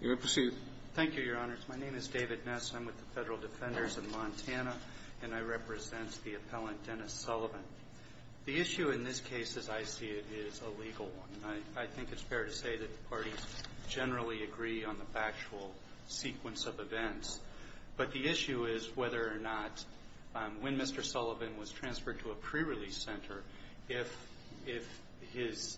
The issue in this case, as I see it, is a legal one. I think it's fair to say that the parties generally agree on the factual sequence of events. But the issue is whether or not when Mr. Sullivan was transferred to a pre-release center, if his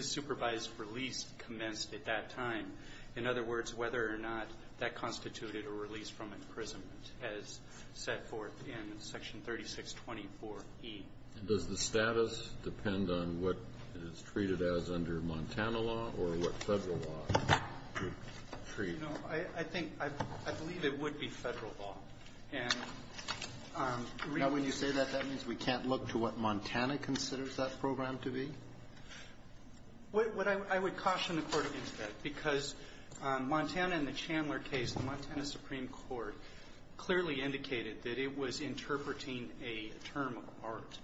supervised release commenced at that time. In other words, whether or not that constituted a release from imprisonment as set forth in Section 3624E. And does the status depend on what it's treated as under Montana law or what federal law it would treat? You know, I think — I believe it would be federal law. And the reason — Now, when you say that, that means we can't look to what Montana considers that program to be? What I would caution the Court against that, because Montana in the Chandler case, the Montana Supreme Court clearly indicated that it was interpreting a term of art.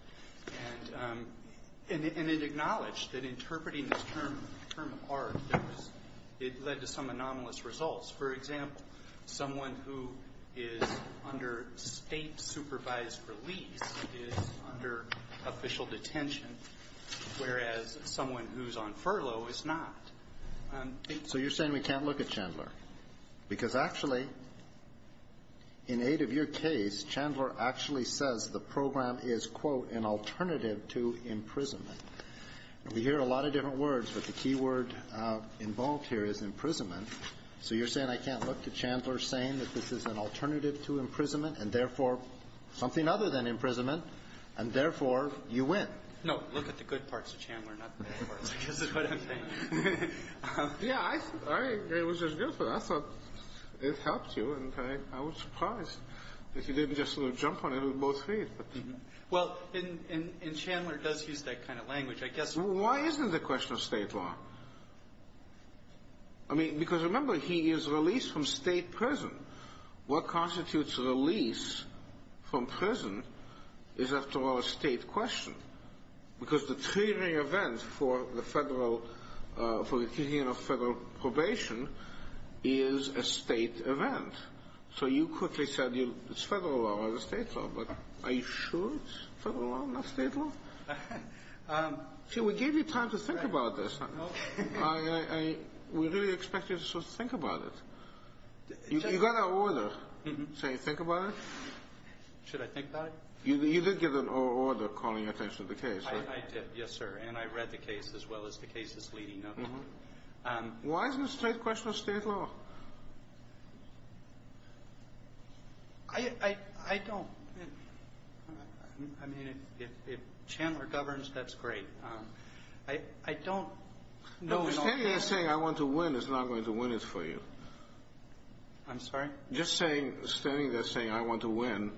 And it acknowledged that interpreting this term, term of art, that was — it led to some anomalous results. For example, someone who is under State-supervised release is under official detention, whereas someone who's on furlough is not. So you're saying we can't look at Chandler? Because actually, in aid of your case, Chandler actually says the program is, quote, an alternative to imprisonment. We hear a lot of different words, but the key word involved here is imprisonment. So you're saying I can't look to Chandler saying that this is an alternative to imprisonment and, therefore, something other than imprisonment, and, therefore, you win? No. Look at the good parts of Chandler, not the bad parts, I guess is what I'm saying. Yeah. I — it was just beautiful. I thought it helped you, and I was surprised that you didn't just sort of jump on it with both feet. Well, in — and Chandler does use that kind of language. I guess — Well, why isn't it a question of State law? I mean, because, remember, he is released from State prison. What constitutes release from prison is, after all, a State question. Because the triggering event for the federal — for the taking of federal probation is a State event. So you quickly said it's federal law or the State law. But are you sure it's federal law, not State law? See, we gave you time to think about this. We really expect you to sort of think about it. You got our order saying think about it? Should I think about it? You did get an order calling attention to the case, right? I did, yes, sir. And I read the case as well as the cases leading up to it. Why isn't it a State question or State law? I don't — I mean, if Chandler governs, that's great. I don't know. Standing there saying, I want to win, is not going to win it for you. I'm sorry? Just standing there saying, I want to win.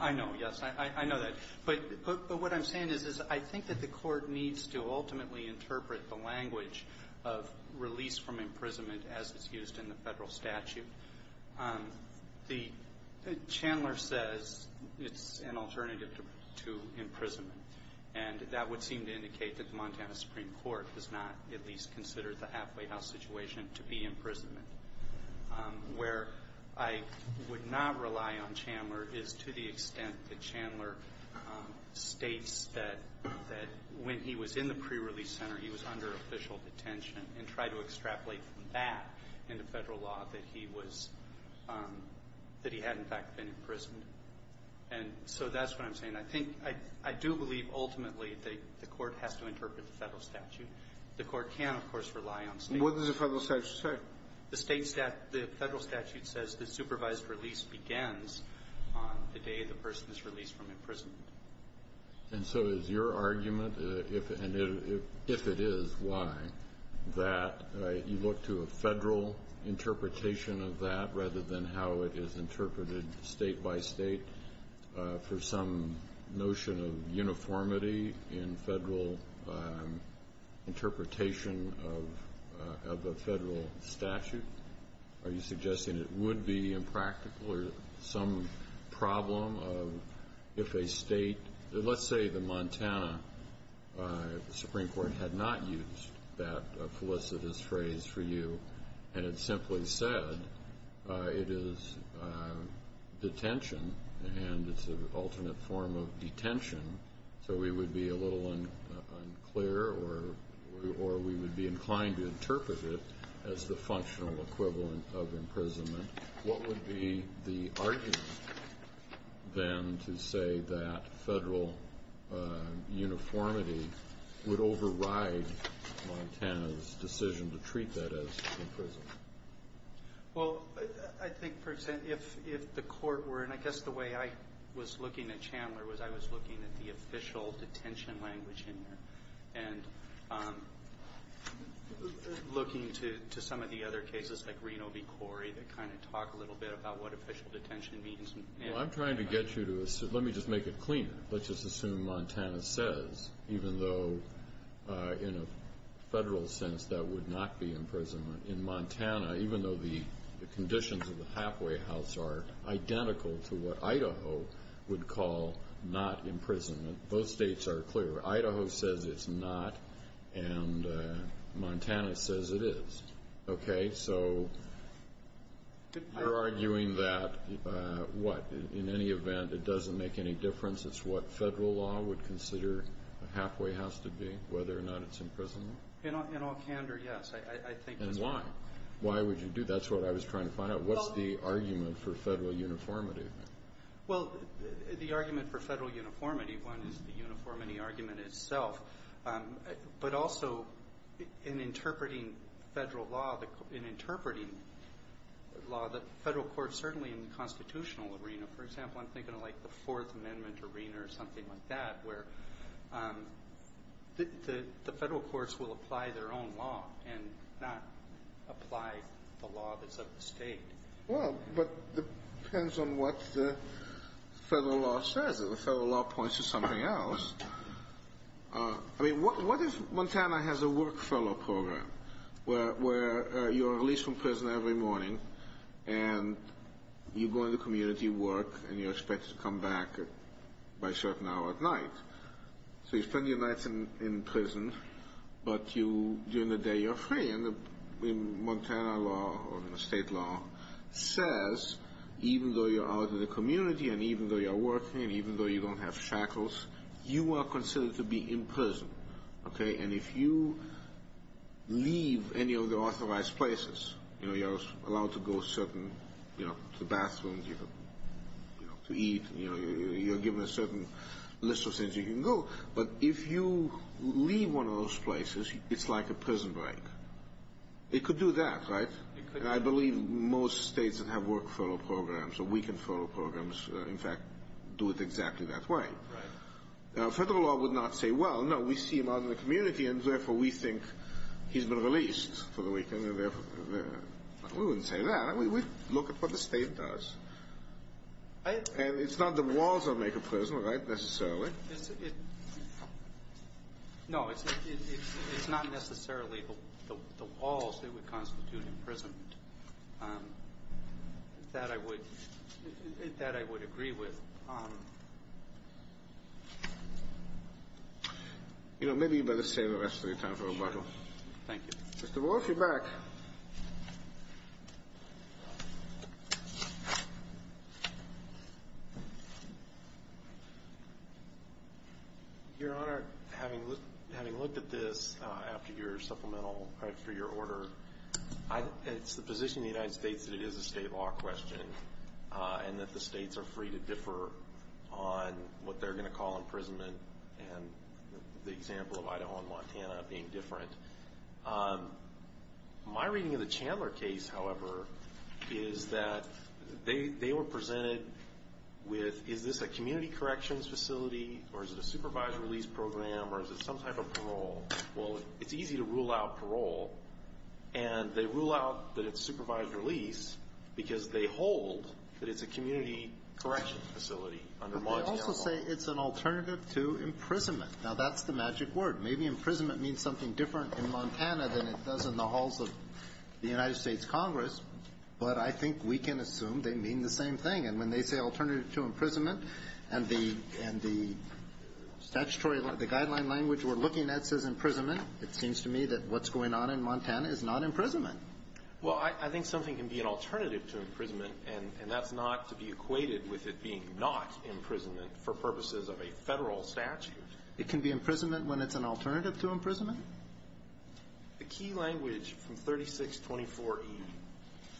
I know, yes. I know that. But what I'm saying is, is I think that the Court needs to ultimately interpret the language of release from imprisonment as it's used in the federal statute. Chandler says it's an alternative to imprisonment. And that would seem to indicate that the Montana Supreme Court does not at least consider the halfway house situation to be imprisonment. Where I would not rely on Chandler is to the extent that Chandler states that when he was in the pre-release center, he was under official detention and tried to extrapolate from that into federal law that he was — that he had, in fact, been imprisoned. And so that's what I'm saying. I think — I do believe, ultimately, that the Court has to interpret the federal statute. The Court can, of course, rely on State — What does the federal statute say? The State — the federal statute says the supervised release begins on the day the person is released from imprisonment. And so is your argument, and if it is, why, that you look to a federal interpretation of that rather than how it is interpreted State by State for some notion of uniformity in federal interpretation of a federal statute? Are you suggesting it would be impractical or some problem of — if a State — let's say the Montana Supreme Court had not used that felicitous phrase for you and had simply said it is detention and it's an alternate form of detention, so we would be a little unclear or we would be inclined to interpret it as the functional equivalent of imprisonment, what would be the argument, then, to say that federal uniformity would override Montana's decision to treat that as imprisonment? Well, I think if the Court were — and I guess the way I was looking at Chandler was I was looking at the official detention language in there. And looking to some of the other cases like Reno v. Corey that kind of talk a little bit about what official detention means. Well, I'm trying to get you to — let me just make it cleaner. Let's just assume Montana says, even though in a federal sense that would not be imprisonment, in Montana, even though the conditions of the halfway house are identical to what Idaho would call not imprisonment, both states are clear. Idaho says it's not and Montana says it is. Okay? So you're arguing that, what, in any event, it doesn't make any difference, it's what federal law would consider a halfway house to be, whether or not it's imprisonment? In all candor, yes. I think — And why? Why would you do — that's what I was trying to find out. What's the argument for federal uniformity? Well, the argument for federal uniformity, one is the uniformity argument itself, but also in interpreting federal law, in interpreting law, the federal courts, certainly in the constitutional arena, for example, I'm thinking of like the Fourth Amendment arena or something like that, where the federal courts will apply their own law and not apply the law that's of the State. Well, but it depends on what the federal law says. If the federal law points to something else — I mean, what if Montana has a work fellow program where you're released from prison every morning and you go into community work and you're expected to come back by a certain hour at night? So you spend your nights in prison, but during the day you're free. And the Montana law or the state law says, even though you're out in the community and even though you're working and even though you don't have shackles, you are considered to be in prison. Okay? And if you leave any of the authorized places — you know, you're allowed to go certain — you know, to the bathroom, to eat, you're given a certain list of things you can go, but if you leave one of those places, it's like a prison break. It could do that, right? And I believe most states that have work fellow programs or weekend fellow programs, in fact, do it exactly that way. Federal law would not say, well, no, we see him out in the community and therefore we think he's been released for the weekend. We wouldn't say that. We'd look at what the state does. And it's not that walls don't make a prison, right, necessarily. No, it's not necessarily the walls that would constitute imprisonment. That I would agree with. You know, maybe you'd better save the rest of your time for rebuttal. Thank you. Mr. Wolf, you're back. Your Honor, having looked at this after your order, it's the position of the United States that it is a state law question and that the states are free to differ on what they're going to call imprisonment and the example of Idaho and Montana being different. My reading of the Chandler case, however, is that they were presented with, is this a community corrections facility or is it a supervised release program or is it some type of parole? Well, it's easy to rule out parole and they rule out that it's supervised release because they hold that it's a community corrections facility under Montana law. But they also say it's an alternative to imprisonment. Now, that's the magic word. Maybe imprisonment means something different in Montana than it does in the halls of the United States Congress, but I think we can assume they mean the same thing. And when they say alternative to imprisonment and the guideline language we're looking at says imprisonment, it seems to me that what's going on in Montana is not imprisonment. Well, I think something can be an alternative to imprisonment and that's not to be equated with it being not imprisonment for purposes of a federal statute. It can be imprisonment when it's an alternative to imprisonment? The key language from 3624E,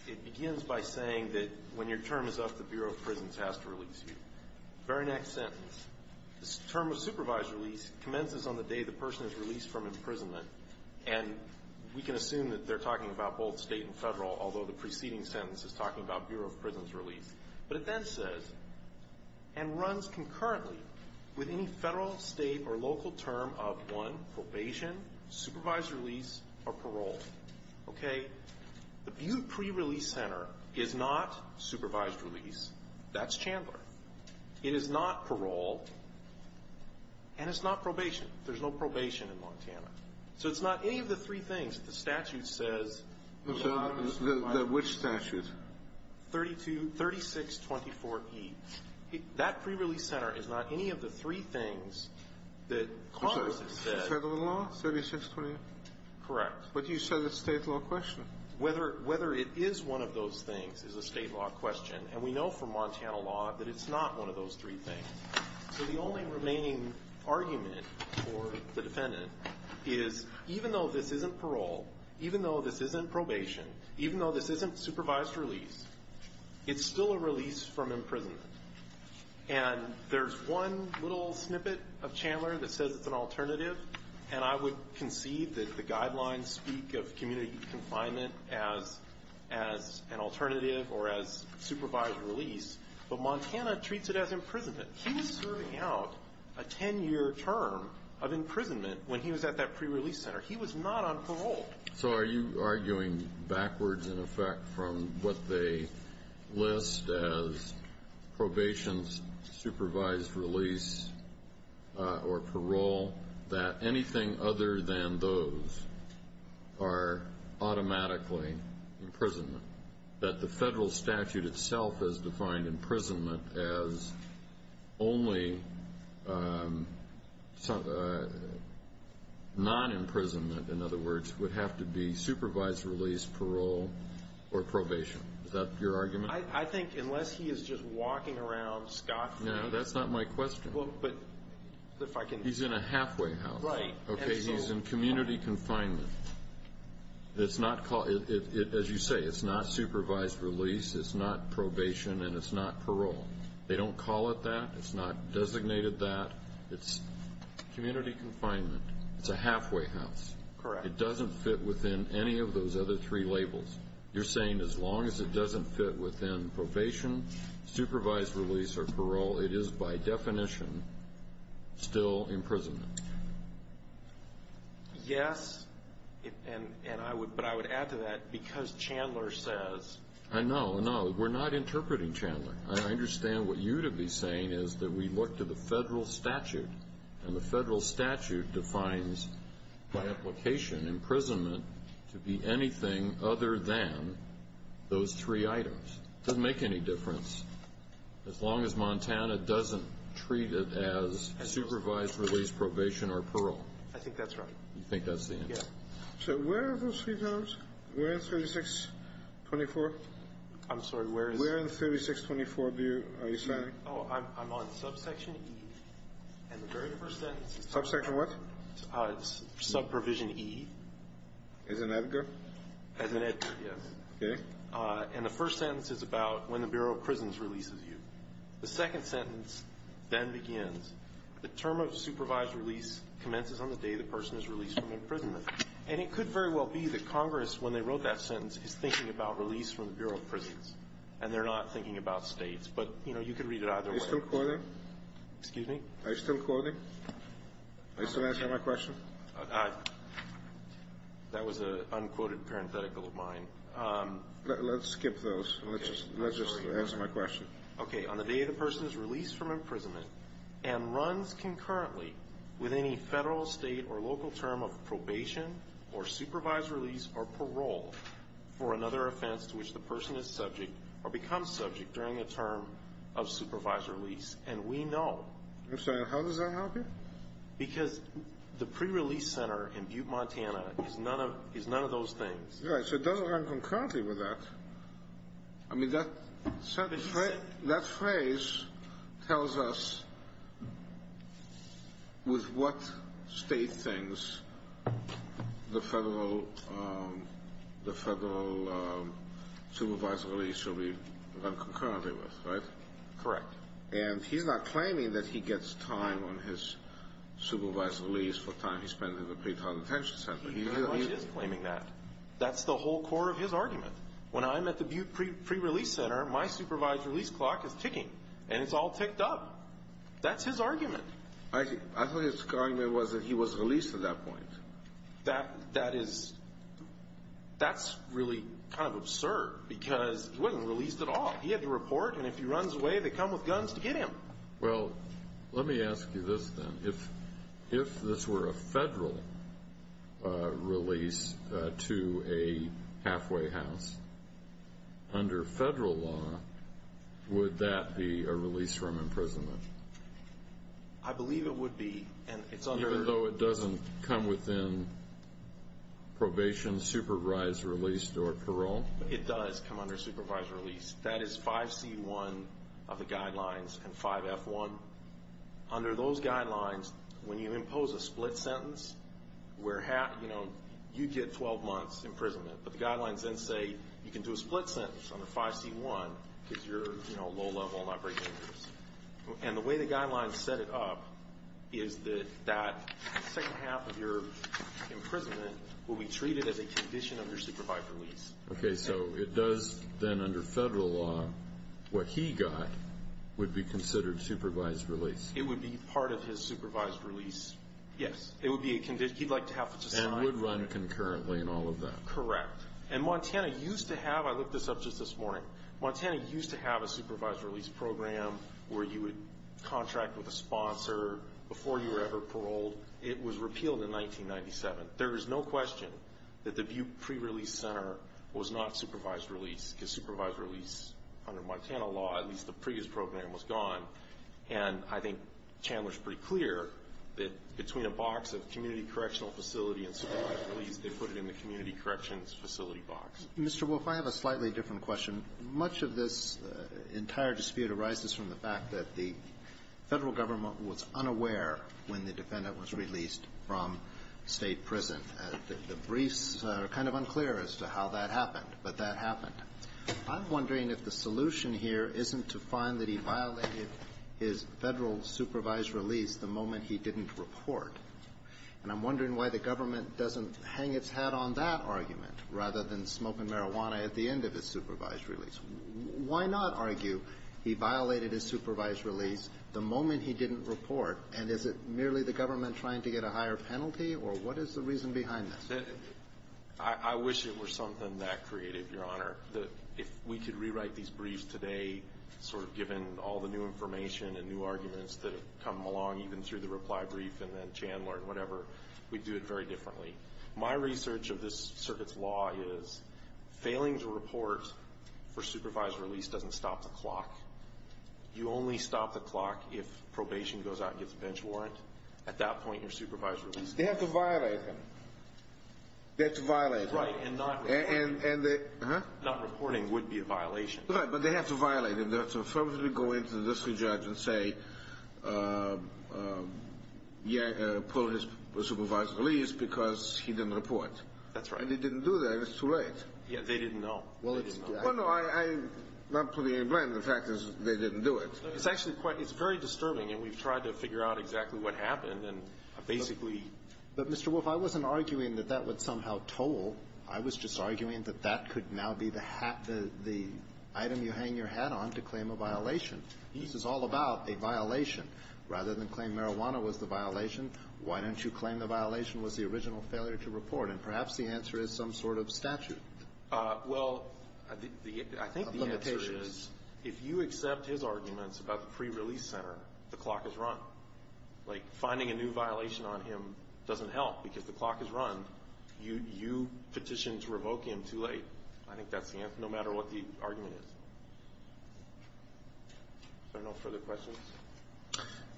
it begins by saying that when your term is up, the Bureau of Prisons has to release you. Very next sentence. The term of supervised release commences on the day the person is released from imprisonment and we can assume that they're talking about both state and federal, although the preceding sentence is talking about Bureau of Prisons release. But it then says, and runs concurrently with any federal, state, or local term of one, probation, supervised release, or parole. Okay? The pre-release center is not supervised release. That's Chandler. It is not parole. And it's not probation. There's no probation in Montana. So it's not any of the three things the statute says that a person is supervised. Which statute? 3624E. That pre-release center is not any of the three things that Congress has said. Federal law? 3624E? Correct. But you said it's a state law question. Whether it is one of those things is a state law question. And we know from Montana law that it's not one of those three things. So the only remaining argument for the defendant is even though this isn't parole, even though this isn't probation, even though this isn't supervised release, it's still a release from imprisonment. And there's one little snippet of Chandler that says it's an alternative. And I would concede that the guidelines speak of community confinement as an alternative or as supervised release. But Montana treats it as imprisonment. He was serving out a 10-year term of imprisonment when he was at that pre-release center. He was not on parole. So are you arguing backwards in effect from what they list as probation, supervised release, or parole, that anything other than those are automatically imprisonment? That the federal statute itself has defined imprisonment as only non-imprisonment, in other words, would have to be supervised release, parole, or probation. Is that your argument? I think unless he is just walking around No, that's not my question. He's in a halfway house. He's in community confinement. As you say, it's not supervised release, it's not probation, and it's not parole. They don't call it that. It's not designated that. It's community confinement. It's a halfway house. It doesn't fit within any of those other three labels. You're saying as long as it doesn't fit within probation, supervised release, or parole, it is by definition still imprisonment. Yes, but I would add to that because Chandler says No, no, we're not interpreting Chandler. I understand what you'd be saying is that we look to the federal statute, and the federal statute defines by application imprisonment to be anything other than those three items. It doesn't make any difference as long as Montana doesn't treat it as supervised release, probation, or parole. I think that's right. So where are those three terms? Where in 3624? I'm sorry, where in 3624 are you signing? I'm on subsection E and the very first sentence is Subsection what? Subprovision E. As in Edgar? As in Edgar, yes. And the first sentence is about when the Bureau of Prisons releases you. The second sentence then begins the term of supervised release commences on the day the person is released from imprisonment. And it could very well be that Congress when they wrote that sentence is thinking about release from the Bureau of Prisons and they're not thinking about states, but you know you could read it either way. Are you still quoting? Excuse me? Are you still quoting? Are you still answering my question? That was an unquoted parenthetical of mine. Let's skip those. Let's just answer my question. Okay, on the day the person is released from imprisonment and runs concurrently with any federal state or local term of probation or supervised release or parole for another offense to which the person is subject or becomes subject during a term of supervised release. And we know I'm sorry, how does that help you? Because the pre-release center in Butte, Montana is none of those things. Right, so it doesn't run concurrently with that. I mean that sentence that phrase tells us with what state things the federal the federal supervised release should be run concurrently with, right? Correct. And he's not claiming that he gets time on his supervised release for time he spent in the pretrial detention center. He is claiming that. That's the whole core of his argument. When I'm at the Butte pre-release center, my supervised release clock is ticking and it's all ticked up. That's his argument. I thought his argument was that he was released at that point. That is that's really kind of absurd because he wasn't released at all. He had to report and if he runs away, they come with guns to get him. Well, let me ask you this then. If this were a federal release to a halfway house, under federal law, would that be a release from imprisonment? I believe it would be. Even though it doesn't come within probation, supervised release, or parole? It does come under supervised release. That is 5C1 of the guidelines and 5F1. Under those guidelines, when you impose a split sentence, you get 12 months imprisonment, but the guidelines then say you can do a split sentence under 5C1 because you're low level and not very dangerous. The way the guidelines set it up is that the second half of your imprisonment will be treated as a condition of your supervised release. Okay, so it does then under federal law, what he got would be considered supervised release. It would be part of his supervised release. Yes. And would run concurrently in all of that. Correct. I looked this up just this morning. Montana used to have a supervised release program where you would contract with a sponsor before you were ever paroled. It was repealed in 1997. There is no question that the pre-release center was not supervised release because supervised release under Montana law, at least the previous program, was gone. And I think Chandler's pretty clear that between a box of community correctional facility and supervised release, they put it in the community corrections facility box. Mr. Wolf, I have a slightly different question. Much of this entire dispute arises from the fact that the federal government was unaware when the defendant was released from state prison. The briefs are kind of unclear as to how that happened, but that happened. I'm wondering if the solution here isn't to find that he violated his federal supervised release the moment he didn't report. And I'm wondering why the government doesn't hang its hat on that argument rather than smoke and marijuana at the end of his supervised release. Why not argue he violated his supervised release the moment he didn't report, and is it merely the government trying to get a higher penalty, or what is the reason behind this? I wish it were something that creative, Your Honor. If we could rewrite these briefs today, sort of given all the new information and new arguments that have come along even through the reply brief and then Chandler and whatever, we'd do it very differently. My research of this circuit's law is failing to report for supervised release doesn't stop the clock. You only stop the clock if probation goes out and gets a bench warrant. At that point, your supervised release... They have to violate him. They have to violate him. Right, and not reporting would be a violation. Right, but they have to violate him. They have to go in to the district judge and say pull his supervised release because he didn't report. That's right. And they didn't do that. It's too late. Yeah, they didn't know. Well, no, I'm not putting any blame. The fact is they didn't do it. It's very disturbing and we've tried to figure out exactly what happened and basically... But, Mr. Wolf, I wasn't arguing that that would somehow toll. I was just arguing that that could now be the hat, the item you hang your hat on to claim a violation. This is all about a violation. Rather than claim marijuana was the violation, why don't you claim the violation was the original failure to report? And perhaps the answer is some sort of statute. Well, I think the answer is if you accept his arguments about the pre-release center, the clock is run. Like, finding a new violation on him doesn't help because the clock is run. You petition to revoke him too late. I think that's the answer no matter what the argument is. Are there no further questions?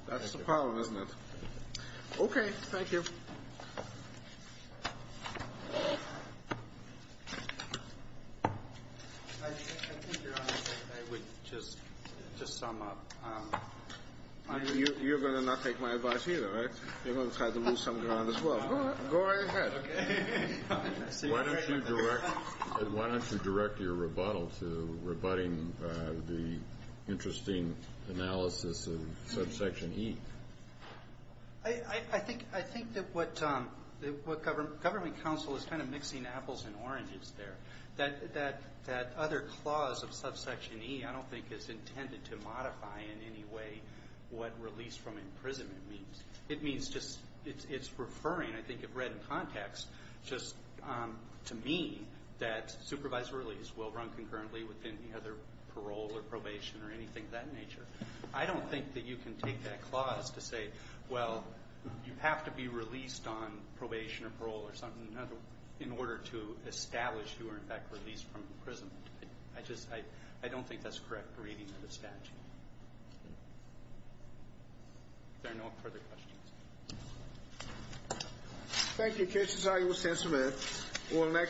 That's the problem, isn't it? Okay, thank you. I think, Your Honor, I would just sum up. You're going to not take my advice either, right? You're going to try to move something around as well. Go ahead. Why don't you direct your rebuttal to rebutting the interesting analysis of subsection E? I think that what government counsel is kind of mixing apples and oranges there. That other clause of subsection E, I don't think is intended to modify in any way what release from imprisonment means. It means just it's referring, I think you've read in context, just to me, that supervised release will run concurrently with any other parole or probation or anything of that nature. I don't think that you can take that clause to say, well, you have to be released on probation or parole or something in order to establish you are, in fact, released from imprisonment. I just, I don't think that's correct reading of the statute. If there are no further questions. Cases are yours to answer, ma'am.